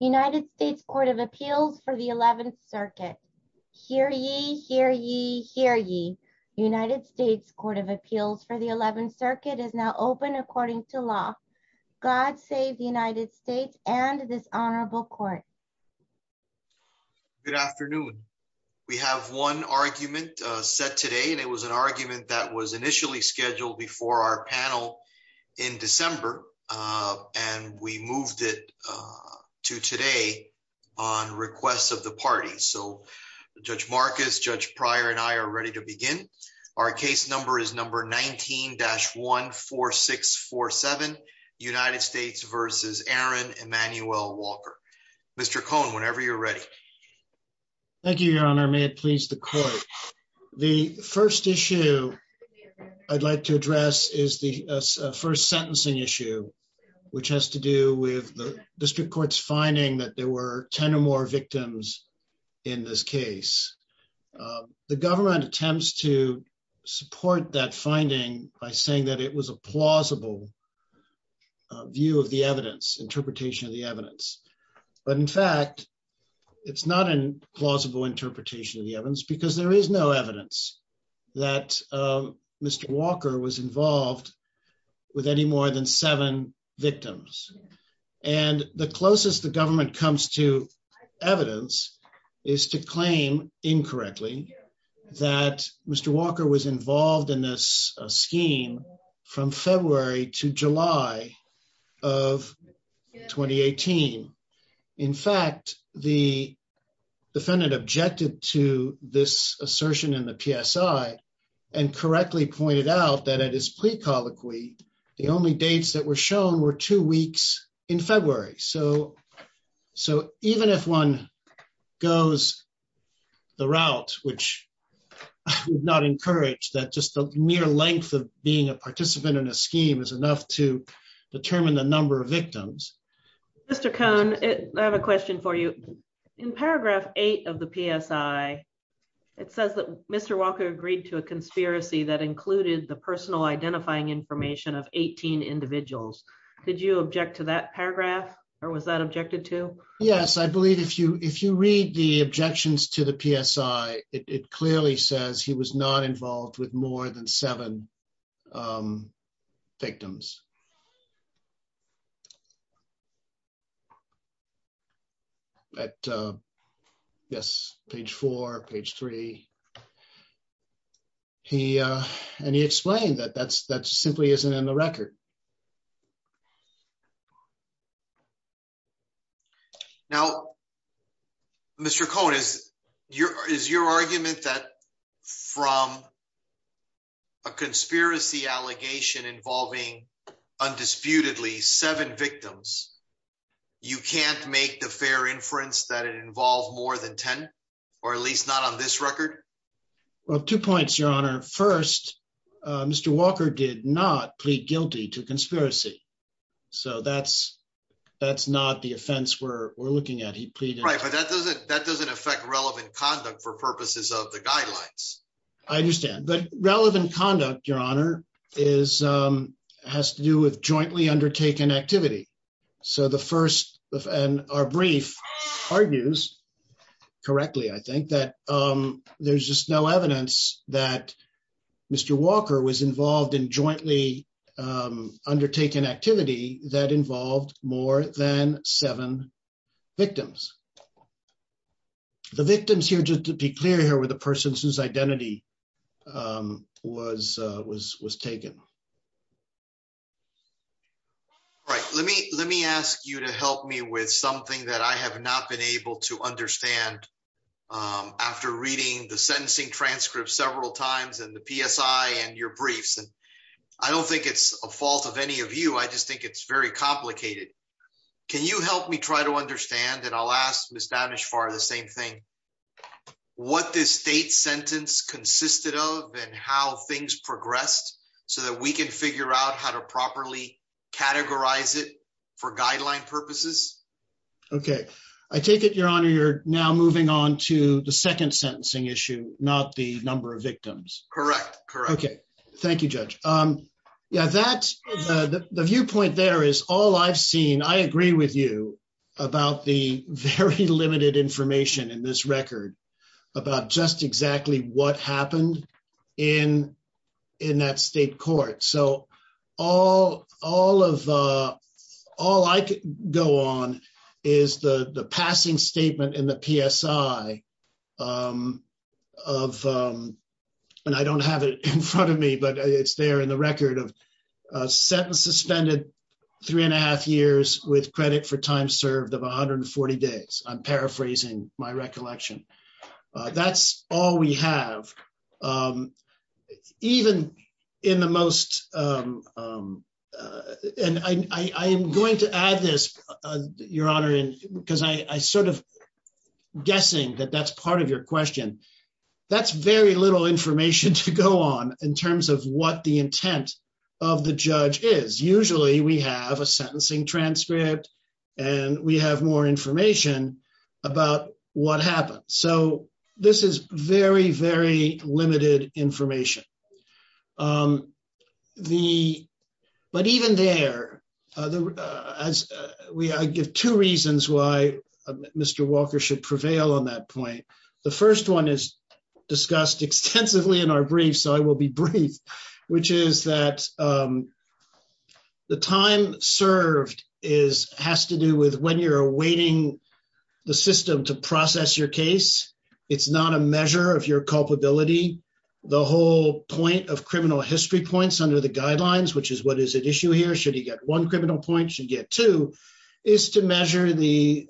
United States Court of Appeals for the 11th Circuit. Hear ye, hear ye, hear ye. United States Court of Appeals for the 11th Circuit is now open according to law. God save the United States and this honorable court. Good afternoon. We have one argument set today, and it was an argument that was initially scheduled before our panel in December, and we moved it to today on request of the party. So Judge Marcus, Judge Pryor, and I are ready to begin. Our case number is number 19-14647, United States v. Aaron Emanuel Walker. Mr. Cohn, whenever you're ready. Thank you, your honor. May it please the court. The first issue I'd like to address is the first sentencing issue, which has to do with the district court's finding that there were 10 or more victims in this case. The government attempts to support that finding by saying that it was a plausible view of the evidence, interpretation of the evidence. But in fact, it's not a plausible interpretation of the evidence because there is no evidence that Mr. Walker was involved with any more than seven victims. And the closest the government comes to evidence is to claim incorrectly that Mr. Walker was involved in this scheme from February to July of 2018. In fact, the defendant objected to this assertion in the PSI and correctly pointed out that at his plea colloquy, the only dates that were shown were two weeks in February. So even if one goes the route, which I would not encourage, that just the mere length of being a participant in a scheme is enough to determine the number of victims. Mr. Cohn, I have a question for you. In paragraph eight of the PSI, it says that Mr. Walker agreed to a conspiracy that included the personal identifying information of 18 individuals. Did you object to that paragraph or was that objected to? Yes, I believe if you read the objections to the PSI, it clearly says he was not involved with more than seven victims. At, yes, page four, page three. And he explained that that simply isn't in the record. Now, Mr. Cohn, is your argument that from a conspiracy allegation involving undisputedly seven victims, you can't make the fair inference that it involved more than 10, or at least not on this record? Well, two points, Your Honor. First, Mr. Walker did not plead guilty to conspiracy. So that's not the offense we're looking at. He pleaded- Right, but that doesn't affect relevant conduct for purposes of the guidelines. I understand. But relevant conduct, Your Honor, has to do with jointly undertaken activity. So the first, and our brief argues correctly, I think, that there's just no evidence that Mr. Walker was involved in jointly undertaken activity that involved more than seven victims. The victims here, just to be clear here, were the persons whose identity was taken. Right, let me ask you to help me with something that I have not been able to understand after reading the sentencing transcript several times and the PSI and your briefs. And I don't think it's a fault of any of you. I just think it's very complicated. Can you help me try to understand, and I'll ask Ms. Danish-Farr the same thing, what this state sentence consisted of and how things progressed so that we can figure out how to properly categorize it for guideline purposes? Okay, I take it, Your Honor, you're now moving on to the second sentencing issue, not the number of victims. Correct, correct. Okay, thank you, Judge. Yeah, the viewpoint there is all I've seen. I agree with you about the very limited information in this record about just exactly what happened in that state court. So all I could go on is the passing statement in the PSI of, and I don't have it in front of me, but it's there in the record, of sentence suspended three and a half years with credit for time served of 140 days. I'm paraphrasing my recollection. That's all we have, even in the most, and I am going to add this, Your Honor, because I'm sort of guessing that that's part of your question. That's very little information to go on in terms of what the intent of the judge is. Usually we have a sentencing transcript and we have more information about what happened. So this is very, very limited information. But even there, I give two reasons why Mr. Walker should prevail on that point. The first one is discussed extensively in our brief, so I will be brief, which is that the time served has to do with when you're awaiting the system to process your case. It's not a measure of your culpability. The whole point of criminal history points under the guidelines, which is what is at issue here, should he get one criminal point, should he get two, is to measure the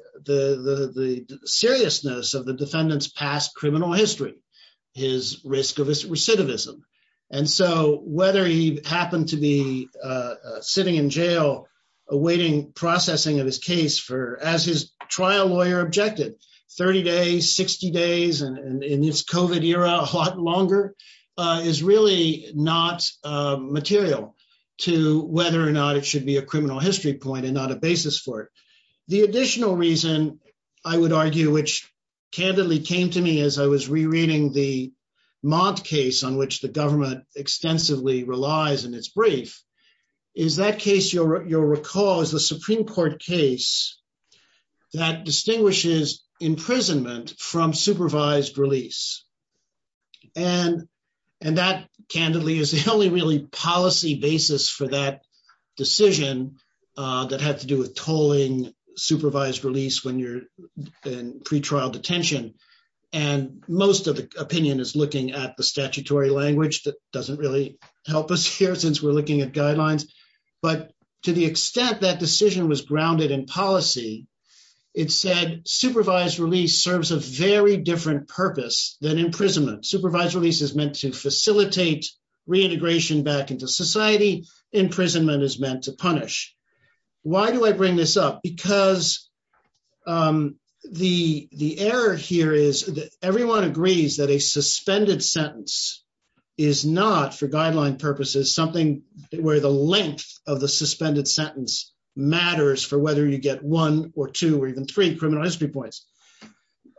seriousness of the defendant's past criminal history, his risk of recidivism. And so whether he happened to be sitting in jail awaiting processing of his case as his trial lawyer objected, 30 days, 60 days, and in this COVID era, a lot longer, is really not material to whether or not it should be a criminal history point and not a basis for it. The additional reason I would argue, which candidly came to me as I was rereading the Mott case on which the government extensively relies in its brief, is that case you'll recall is the Supreme Court case that distinguishes imprisonment from supervised release. And that candidly is the only really policy basis for that decision that had to do with tolling supervised release when you're in pretrial detention. And most of the opinion is looking at the statutory language that doesn't really help us here since we're looking at guidelines, but to the extent that decision was grounded in policy, it said supervised release serves a very different purpose than imprisonment. Supervised release is meant to facilitate reintegration back into society. Imprisonment is meant to punish. Why do I bring this up? Because the error here is that everyone agrees that a suspended sentence is not, for guideline purposes, something where the length of the suspended sentence matters for whether you get one or two or even three criminal history points.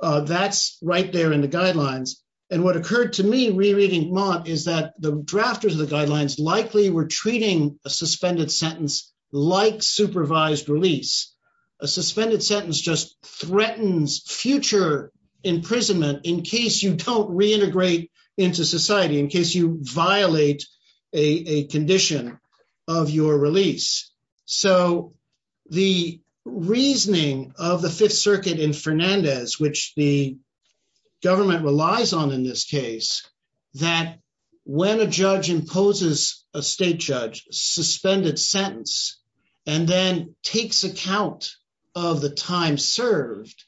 That's right there in the guidelines. And what occurred to me rereading Mott is that the drafters of the guidelines likely were treating a suspended sentence like supervised release. A suspended sentence just threatens future imprisonment in case you don't reintegrate into society, in case you violate a condition of your release. So the reasoning of the Fifth Circuit in Fernandez, which the government relies on in this case, that when a judge imposes a state judge suspended sentence and then takes account of the time served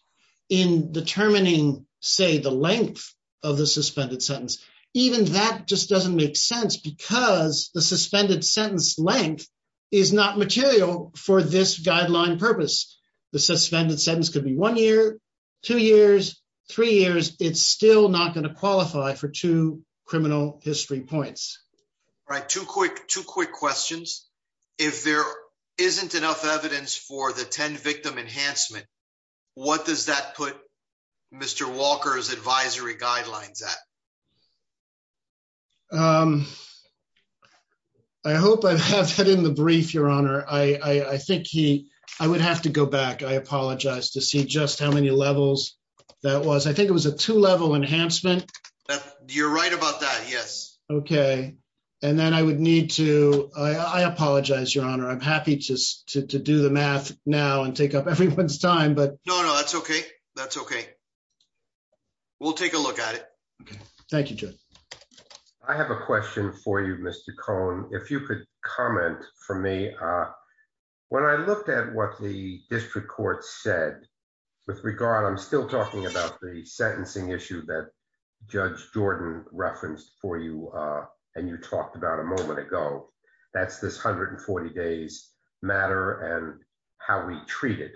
in determining, say, the length of the suspended sentence, even that just doesn't make sense because the suspended sentence length is not material for this guideline purpose. The suspended sentence could be one year, two years, three years, it's still not gonna qualify for two criminal history points. Right, two quick questions. If there isn't enough evidence for the 10 victim enhancement, what does that put Mr. Walker's advisory guidelines at? I hope I have that in the brief, Your Honor. I think he, I would have to go back, I apologize, to see just how many levels that was. I think it was a two level enhancement. You're right about that, yes. Okay, and then I would need to, I apologize, Your Honor. I'm happy to do the math now and take up everyone's time, but- No, no, that's okay. That's okay. We'll take a look at it. Thank you, Judge. I have a question for you, Mr. Cohen. If you could comment for me. When I looked at what the district court said, with regard, I'm still talking about the sentencing issue that Judge Jordan referenced for you and you talked about a moment ago. That's this 140 days matter and how we treat it.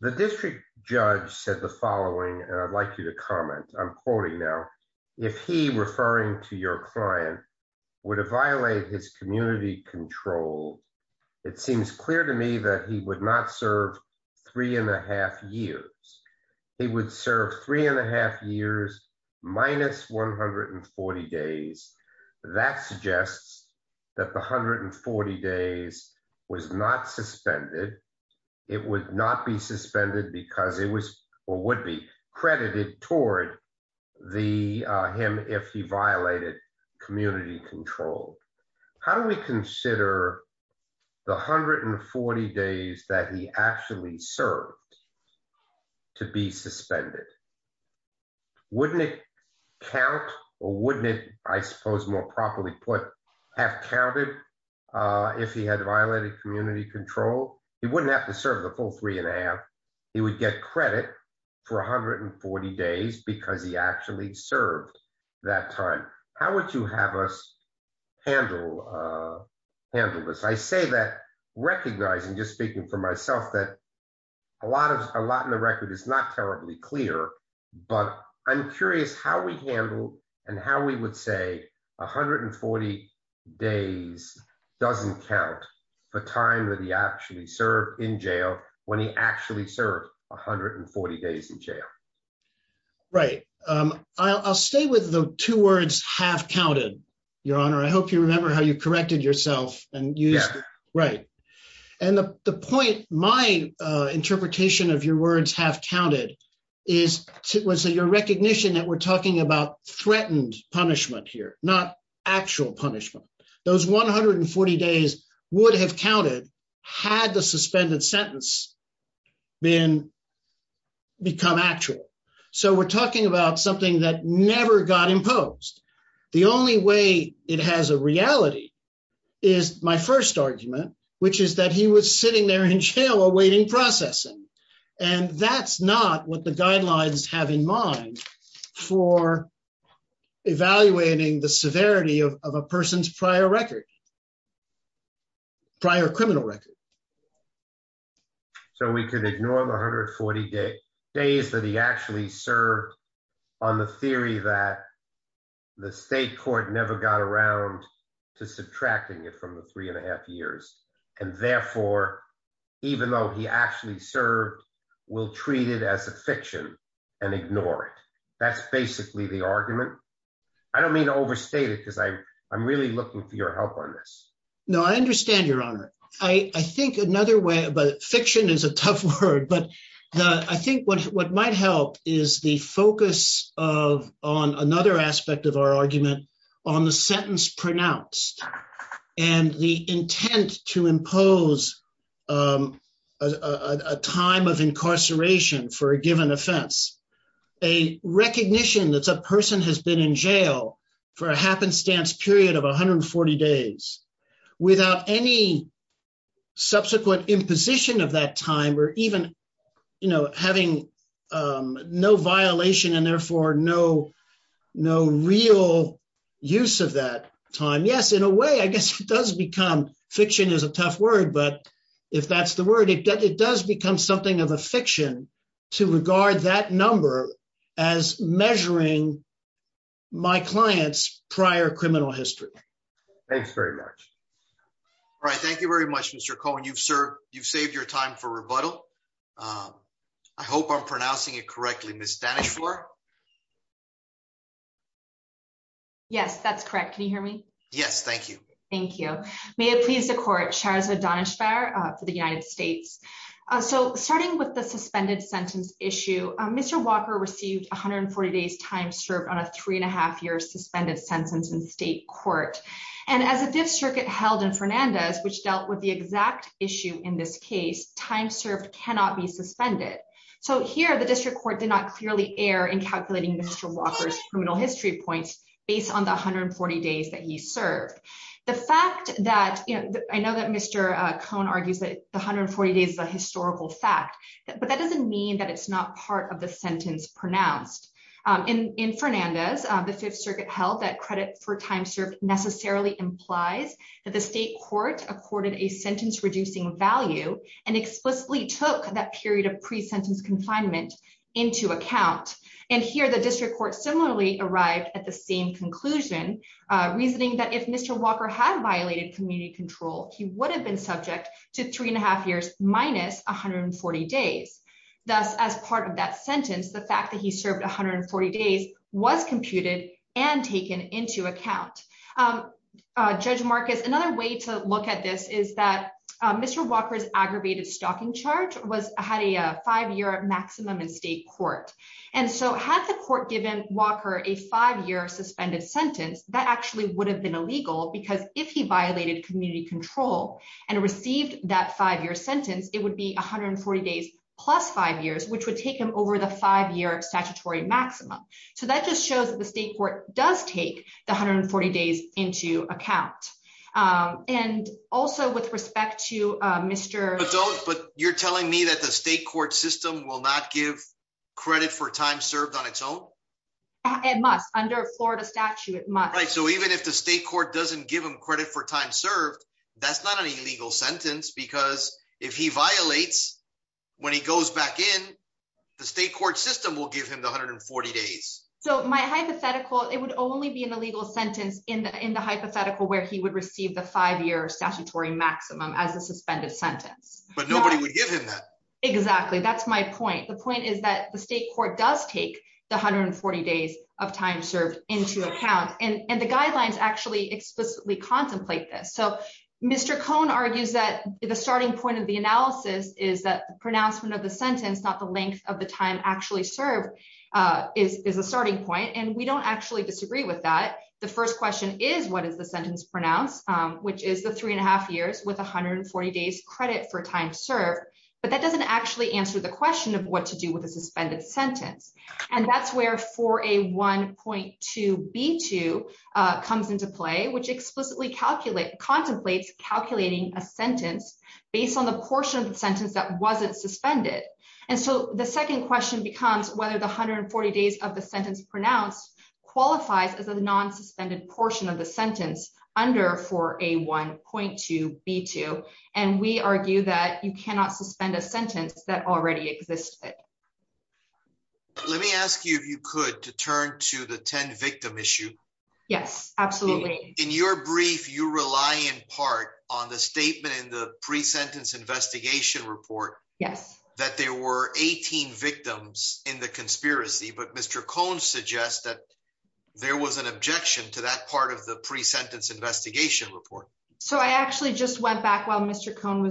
The district judge said the following, and I'd like you to comment. I'm quoting now. If he, referring to your client, would have violated his community control, it seems clear to me that he would not serve three and a half years. He would serve three and a half years minus 140 days. That suggests that the 140 days was not suspended. It would not be suspended because it was, or would be credited toward him if he violated community control. How do we consider the 140 days that he actually served to be suspended? Wouldn't it count or wouldn't it, I suppose more properly put, have counted if he had violated community control? He wouldn't have to serve the full three and a half. He would get credit for 140 days because he actually served that time. How would you have us handle this? I say that recognizing, just speaking for myself, that a lot in the record is not terribly clear, but I'm curious how we handle and how we would say 140 days doesn't count for time that he actually served in jail when he actually served 140 days in jail. Right. I'll stay with the two words, have counted, Your Honor. I hope you remember how you corrected yourself and used it. Right. And the point, my interpretation of your words, have counted, was that your recognition that we're talking about threatened punishment here, not actual punishment. Those 140 days would have counted had the suspended sentence become actual. So we're talking about something that never got imposed. The only way it has a reality is my first argument, which is that he was sitting there in jail awaiting processing. And that's not what the guidelines have in mind for evaluating the severity of a person's prior record, prior criminal record. So we can ignore the 140 days that he actually served on the theory that the state court never got around to subtracting it from the three and a half years. And therefore, even though he actually served, we'll treat it as a fiction and ignore it. That's basically the argument. I don't mean to overstate it but I'm really looking for your help on this. No, I understand, Your Honor. I think another way, but fiction is a tough word, but I think what might help is the focus on another aspect of our argument on the sentence pronounced and the intent to impose a time of incarceration for a given offense. A recognition that a person has been in jail for a happenstance period of 140 days without any subsequent imposition of that time or even having no violation and therefore no real use of that time. Yes, in a way, I guess it does become, fiction is a tough word, but if that's the word, it does become something of a fiction to regard that number as measuring my client's prior criminal history. Thanks very much. All right, thank you very much, Mr. Cohen. You've served, you've saved your time for rebuttal. I hope I'm pronouncing it correctly. Ms. Danisch-Flohr. Yes, that's correct. Can you hear me? Yes, thank you. Thank you. May it please the court, Charles O'Donishever for the United States. So starting with the suspended sentence issue, Mr. Walker received 140 days time served on a three and a half year suspended sentence in state court. And as the district held in Fernandez, which dealt with the exact issue in this case, time served cannot be suspended. So here the district court did not clearly err in calculating Mr. Walker's criminal history points based on the 140 days that he served. The fact that, I know that Mr. Cohen argues that the 140 days is a historical fact, but that doesn't mean that it's not part of the sentence pronounced. In Fernandez, the Fifth Circuit held that credit for time served necessarily implies that the state court accorded a sentence reducing value and explicitly took that period of pre-sentence confinement into account. And here the district court similarly arrived at the same conclusion, reasoning that if Mr. Walker had violated community control, he would have been subject to three and a half years minus 140 days. Thus, as part of that sentence, the fact that he served 140 days was computed and taken into account. Judge Marcus, another way to look at this is that Mr. Walker's aggravated stalking charge had a five year maximum in state court. And so had the court given Walker a five year suspended sentence, that actually would have been illegal because if he violated community control and received that five year sentence, it would be 140 days plus five years, which would take him over the five year statutory maximum. So that just shows that the state court does take the 140 days into account. And also with respect to Mr. But you're telling me that the state court system will not give credit for time served on its own? It must, under Florida statute, it must. Right, so even if the state court doesn't give him credit for time served, that's not an illegal sentence because if he violates, when he goes back in, the state court system will give him the 140 days. So my hypothetical, it would only be an illegal sentence in the hypothetical where he would receive the five year statutory maximum as a suspended sentence. But nobody would give him that. Exactly, that's my point. The point is that the state court does take the 140 days of time served into account. And the guidelines actually explicitly contemplate this. So Mr. Cohn argues that the starting point of the analysis is that the pronouncement of the sentence, not the length of the time actually served is a starting point. And we don't actually disagree with that. The first question is what is the sentence pronounced, which is the three and a half years with 140 days credit for time served. But that doesn't actually answer the question of what to do with a suspended sentence. And that's where 4A1.2b2 comes into play, which explicitly contemplates calculating a sentence based on the portion of the sentence that wasn't suspended. And so the second question becomes whether the 140 days of the sentence pronounced qualifies as a non-suspended portion of the sentence under 4A1.2b2. And we argue that you cannot suspend a sentence that already existed. Let me ask you if you could to turn to the 10 victim issue. Yes, absolutely. In your brief, you rely in part on the statement in the pre-sentence investigation report that there were 18 victims in the conspiracy, but Mr. Cohn suggests that there was an objection to that part of the pre-sentence investigation report. So I actually just went back while Mr. Cohn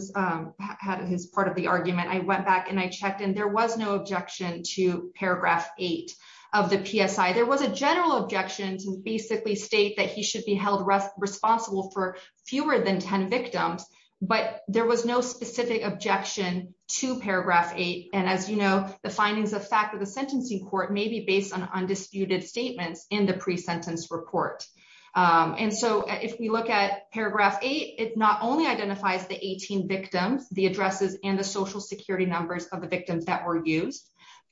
had his part of the argument. I went back and I checked and there was no objection to paragraph eight of the PSI. There was a general objection to basically state that he should be held responsible for fewer than 10 victims, but there was no specific objection to paragraph eight. And as you know, the findings of fact of the sentencing court may be based on undisputed statements in the pre-sentence report. And so if we look at paragraph eight, it not only identifies the 18 victims, the addresses and the social security numbers of the victims that were used,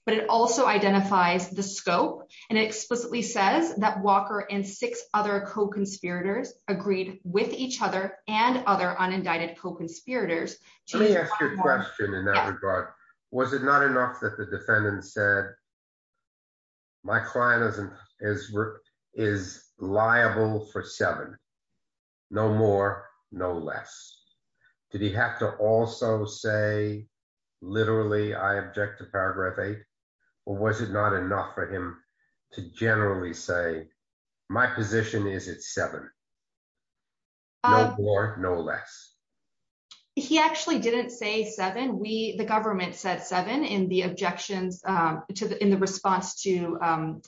but it also identifies the scope. And it explicitly says that Walker and six other co-conspirators agreed with each other and other unindicted co-conspirators. Let me ask you a question in that regard. Was it not enough that the defendant said, my client is liable for seven, no more, no less. Did he have to also say, literally, I object to paragraph eight, or was it not enough for him to generally say, my position is it's seven, no more, no less. He actually didn't say seven. The government said seven in the objections in the response to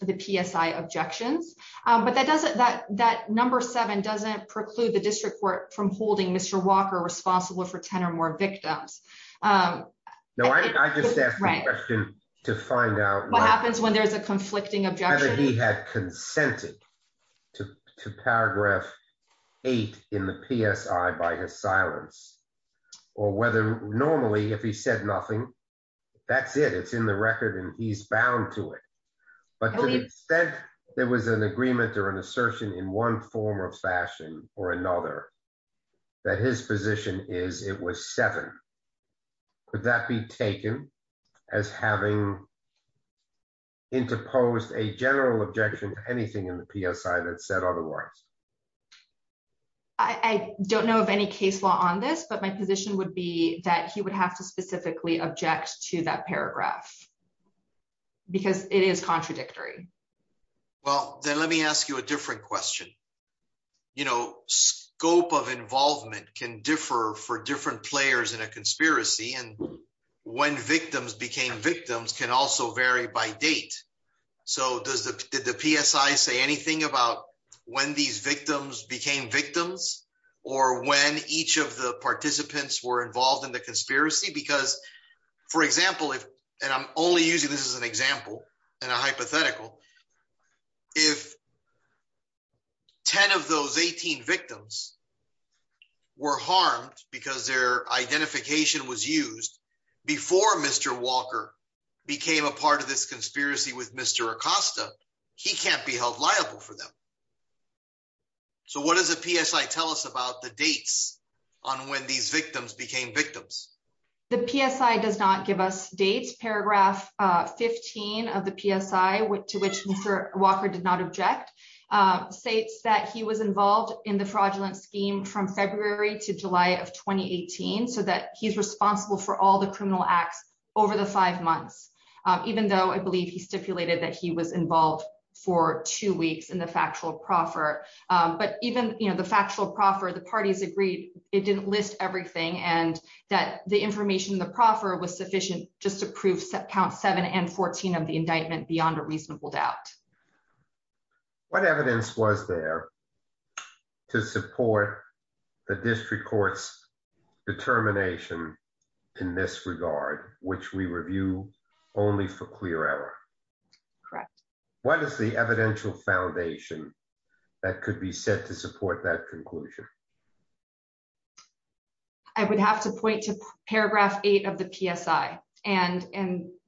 the PSI objections, but that number seven doesn't preclude the district court from holding Mr. Walker responsible for 10 or more victims. No, I just asked the question to find out- What happens when there's a conflicting objection? Whether he had consented to paragraph eight in the PSI by his silence, or whether normally if he said nothing, that's it. It's in the record and he's bound to it. But to the extent there was an agreement or an assertion in one form or fashion or another, that his position is it was seven, could that be taken as having interposed a general objection to anything in the PSI that said otherwise? I don't know of any case law on this, but my position would be that he would have to specifically object to that paragraph, because it is contradictory. Well, then let me ask you a different question. Scope of involvement can differ for different players in a conspiracy, and when victims became victims can also vary by date. So did the PSI say anything about when these victims became victims, or when each of the participants were involved in the conspiracy? Because for example, and I'm only using this as an example and a hypothetical, if 10 of those 18 victims were harmed because their identification was used before Mr. Walker became a part of this conspiracy with Mr. Acosta, he can't be held liable for them. So what does the PSI tell us about the dates on when these victims became victims? The PSI does not give us dates. Paragraph 15 of the PSI, to which Mr. Walker did not object, states that he was involved in the fraudulent scheme from February to July of 2018, so that he's responsible for all the criminal acts over the five months, even though I believe he stipulated that he was involved for two weeks in the factual proffer. But even the factual proffer, the parties agreed, it didn't list everything, and that the information in the proffer was sufficient just to prove count seven and 14 of the indictment beyond a reasonable doubt. What evidence was there to support the district court's determination in this regard, which we review only for clear error? Correct. What is the evidential foundation that could be set to support that conclusion? I would have to point to paragraph eight of the PSI, and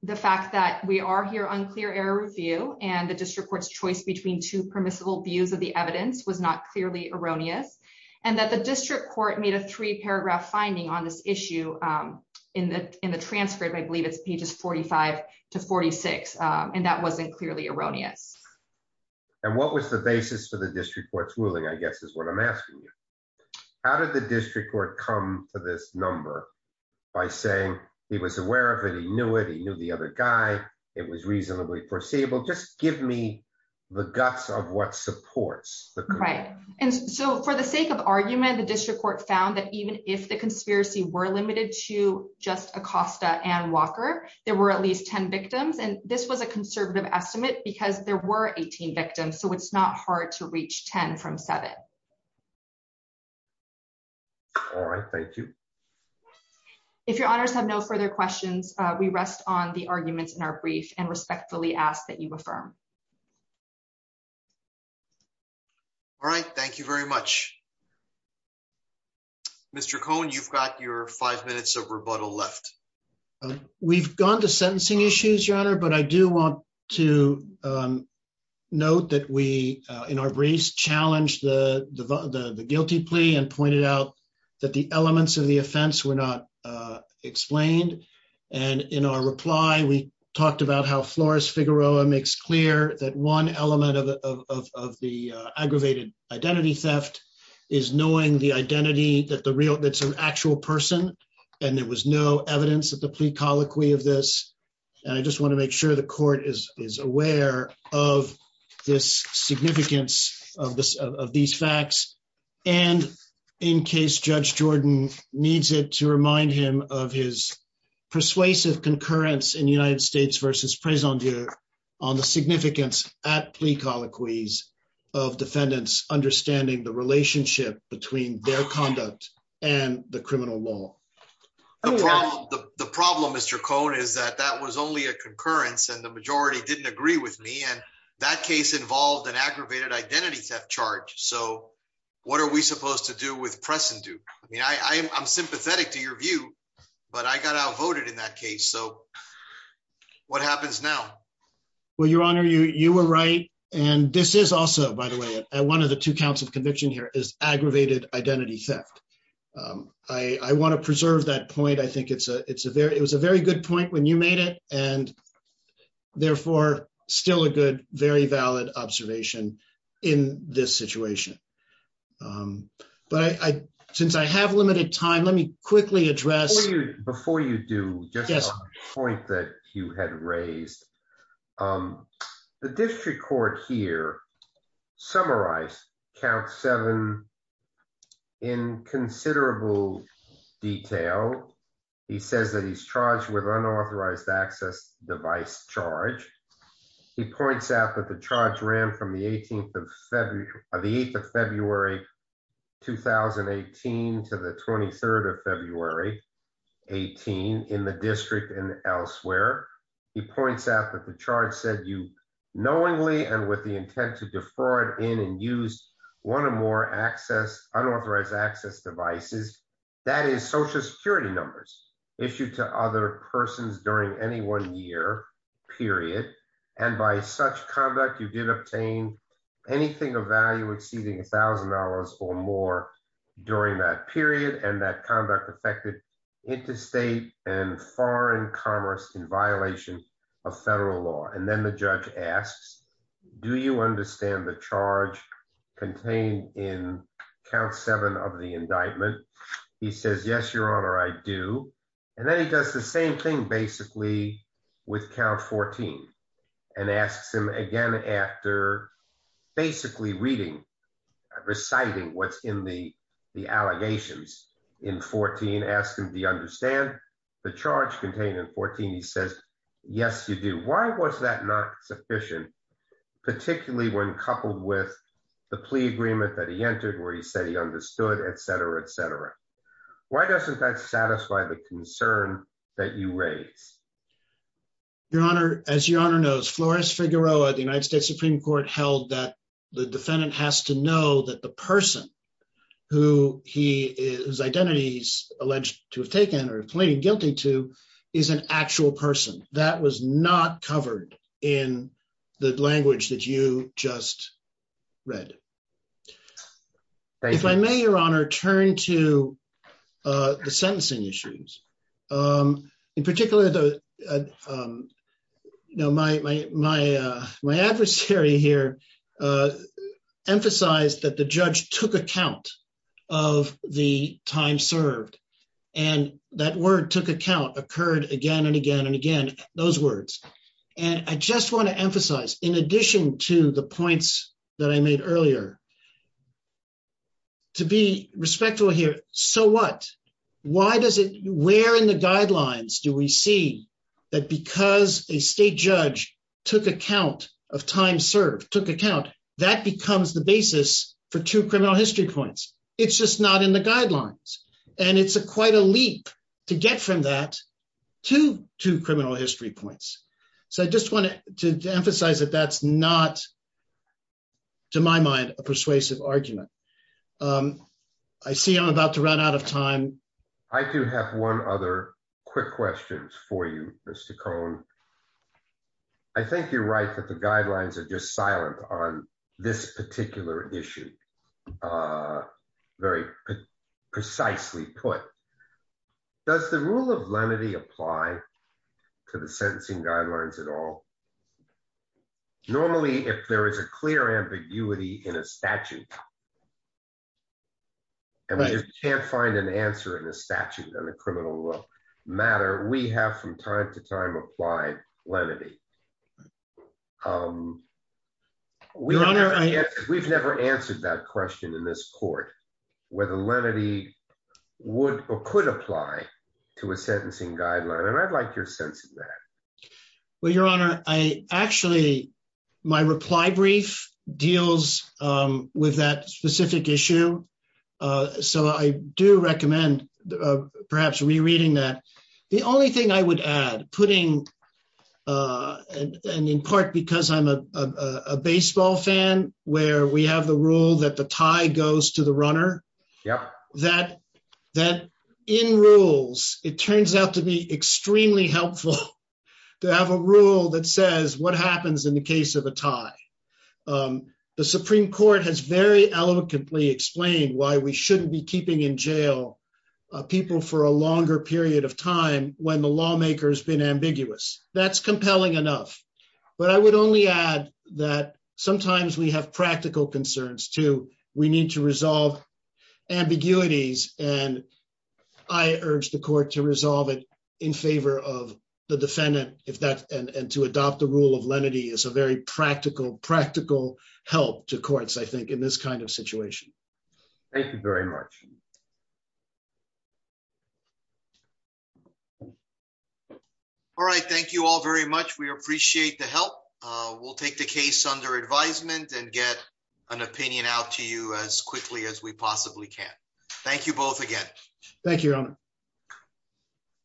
the fact that we are here on clear error review, and the district court's choice between two permissible views of the evidence was not clearly erroneous, and that the district court made a three paragraph finding on this issue in the transcript, I believe it's pages 45 to 46, and that wasn't clearly erroneous. And what was the basis for the district court's ruling, I guess is what I'm asking you. How did the district court come to this number by saying he was aware of it, he knew it, he knew the other guy, it was reasonably foreseeable, just give me the guts of what supports the- Right, and so for the sake of argument, the district court found that even if the conspiracy were limited to just Acosta and Walker, there were at least 10 victims, and this was a conservative estimate because there were 18 victims, so it's not hard to reach 10 from seven. All right, thank you. If your honors have no further questions, we rest on the arguments in our brief and respectfully ask that you affirm. All right, thank you very much. Mr. Cohn, you've got your five minutes of rebuttal left. We've gone to sentencing issues, your honor, but I do want to note that we, in our briefs, we've acknowledged the guilty plea and pointed out that the elements of the offense were not explained, and in our reply, we talked about how Flores Figueroa makes clear that one element of the aggravated identity theft is knowing the identity that's an actual person, and there was no evidence of the plea colloquy of this, and I just want to make sure the court is aware of this significance of these facts, and in case Judge Jordan needs it to remind him of his persuasive concurrence in United States versus Prézendure on the significance at plea colloquies of defendants understanding the relationship between their conduct and the criminal law. The problem, Mr. Cohn, is that that was only a concurrence and the majority didn't agree with me, and that case involved an aggravated identity theft charge, so what are we supposed to do with Prézendure? I mean, I'm sympathetic to your view, but I got outvoted in that case, so what happens now? Well, your honor, you were right, and this is also, by the way, at one of the two counts of conviction here is aggravated identity theft. I want to preserve that point. I think it was a very good point when you made it, and therefore still a good, very valid observation in this situation, but since I have limited time, let me quickly address- Before you do, just a point that you had raised. The district court here summarized count seven in considerable detail. He says that he's charged with unauthorized access device charge. He points out that the charge ran from the 8th of February, 2018, to the 23rd of February, 18, in the district and elsewhere. He points out that the charge said you knowingly and with the intent to defraud in and use one or more unauthorized access devices, that is social security numbers, issued to other persons during any one year period, and by such conduct, you did obtain anything of value exceeding $1,000 or more during that period, and that conduct affected interstate and foreign commerce in violation of federal law. And then the judge asks, do you understand the charge contained in count seven of the indictment? He says, yes, your honor, I do. And then he does the same thing basically with count 14 and asks him again after basically reading, reciting what's in the allegations in 14, ask him, do you understand the charge contained in 14? He says, yes, you do. Why was that not sufficient, particularly when coupled with the plea agreement that he entered where he said he understood, et cetera, et cetera. Why doesn't that satisfy the concern that you raise? Your honor, as your honor knows, Flores Figueroa at the United States Supreme Court held that the defendant has to know that the person who his identity's alleged to have taken or pleaded guilty to is an actual person. That was not covered in the language that you just read. If I may, your honor, turn to the sentencing issues. In particular, my adversary here emphasized that the judge took account of the time served and that word took account occurred again and again and again, those words. And I just wanna emphasize in addition to the points that I made earlier, to be respectful here, so what? Why does it, where in the guidelines do we see that because a state judge took account of time served, took account, that becomes the basis for two criminal history points? It's just not in the guidelines. And it's quite a leap to get from that to two criminal history points. So I just wanted to emphasize that that's not, to my mind, a persuasive argument. I see I'm about to run out of time. I do have one other quick questions for you, Mr. Cohn. I think you're right that the guidelines are just silent on this particular issue, very precisely put. Does the rule of lenity apply to the sentencing guidelines at all? Normally, if there is a clear ambiguity in a statute, and we just can't find an answer in a statute on a criminal matter, we have from time to time applied lenity. We've never answered that question in this court, whether lenity would or could apply to a sentencing guideline. And I'd like your sense of that. Well, Your Honor, I actually, my reply brief deals with that specific issue. So I do recommend perhaps rereading that. The only thing I would add, putting, and in part because I'm a baseball fan where we have the rule that the tie goes to the runner, that in rules, it turns out to be extremely helpful to have a rule that says what happens in the case of a tie. The Supreme Court has very eloquently explained why we shouldn't be keeping in jail people for a longer period of time when the lawmaker has been ambiguous. That's compelling enough. But I would only add that sometimes we have practical concerns too. We need to resolve ambiguities and I urge the court to resolve it in favor of the defendant if that, and to adopt the rule of lenity is a very practical, practical help to courts, I think in this kind of situation. Thank you very much. All right, thank you all very much. We appreciate the help. We'll take the case under advisement and get an opinion out to you as quickly as we possibly can. Thank you both again. Thank you, Your Honor.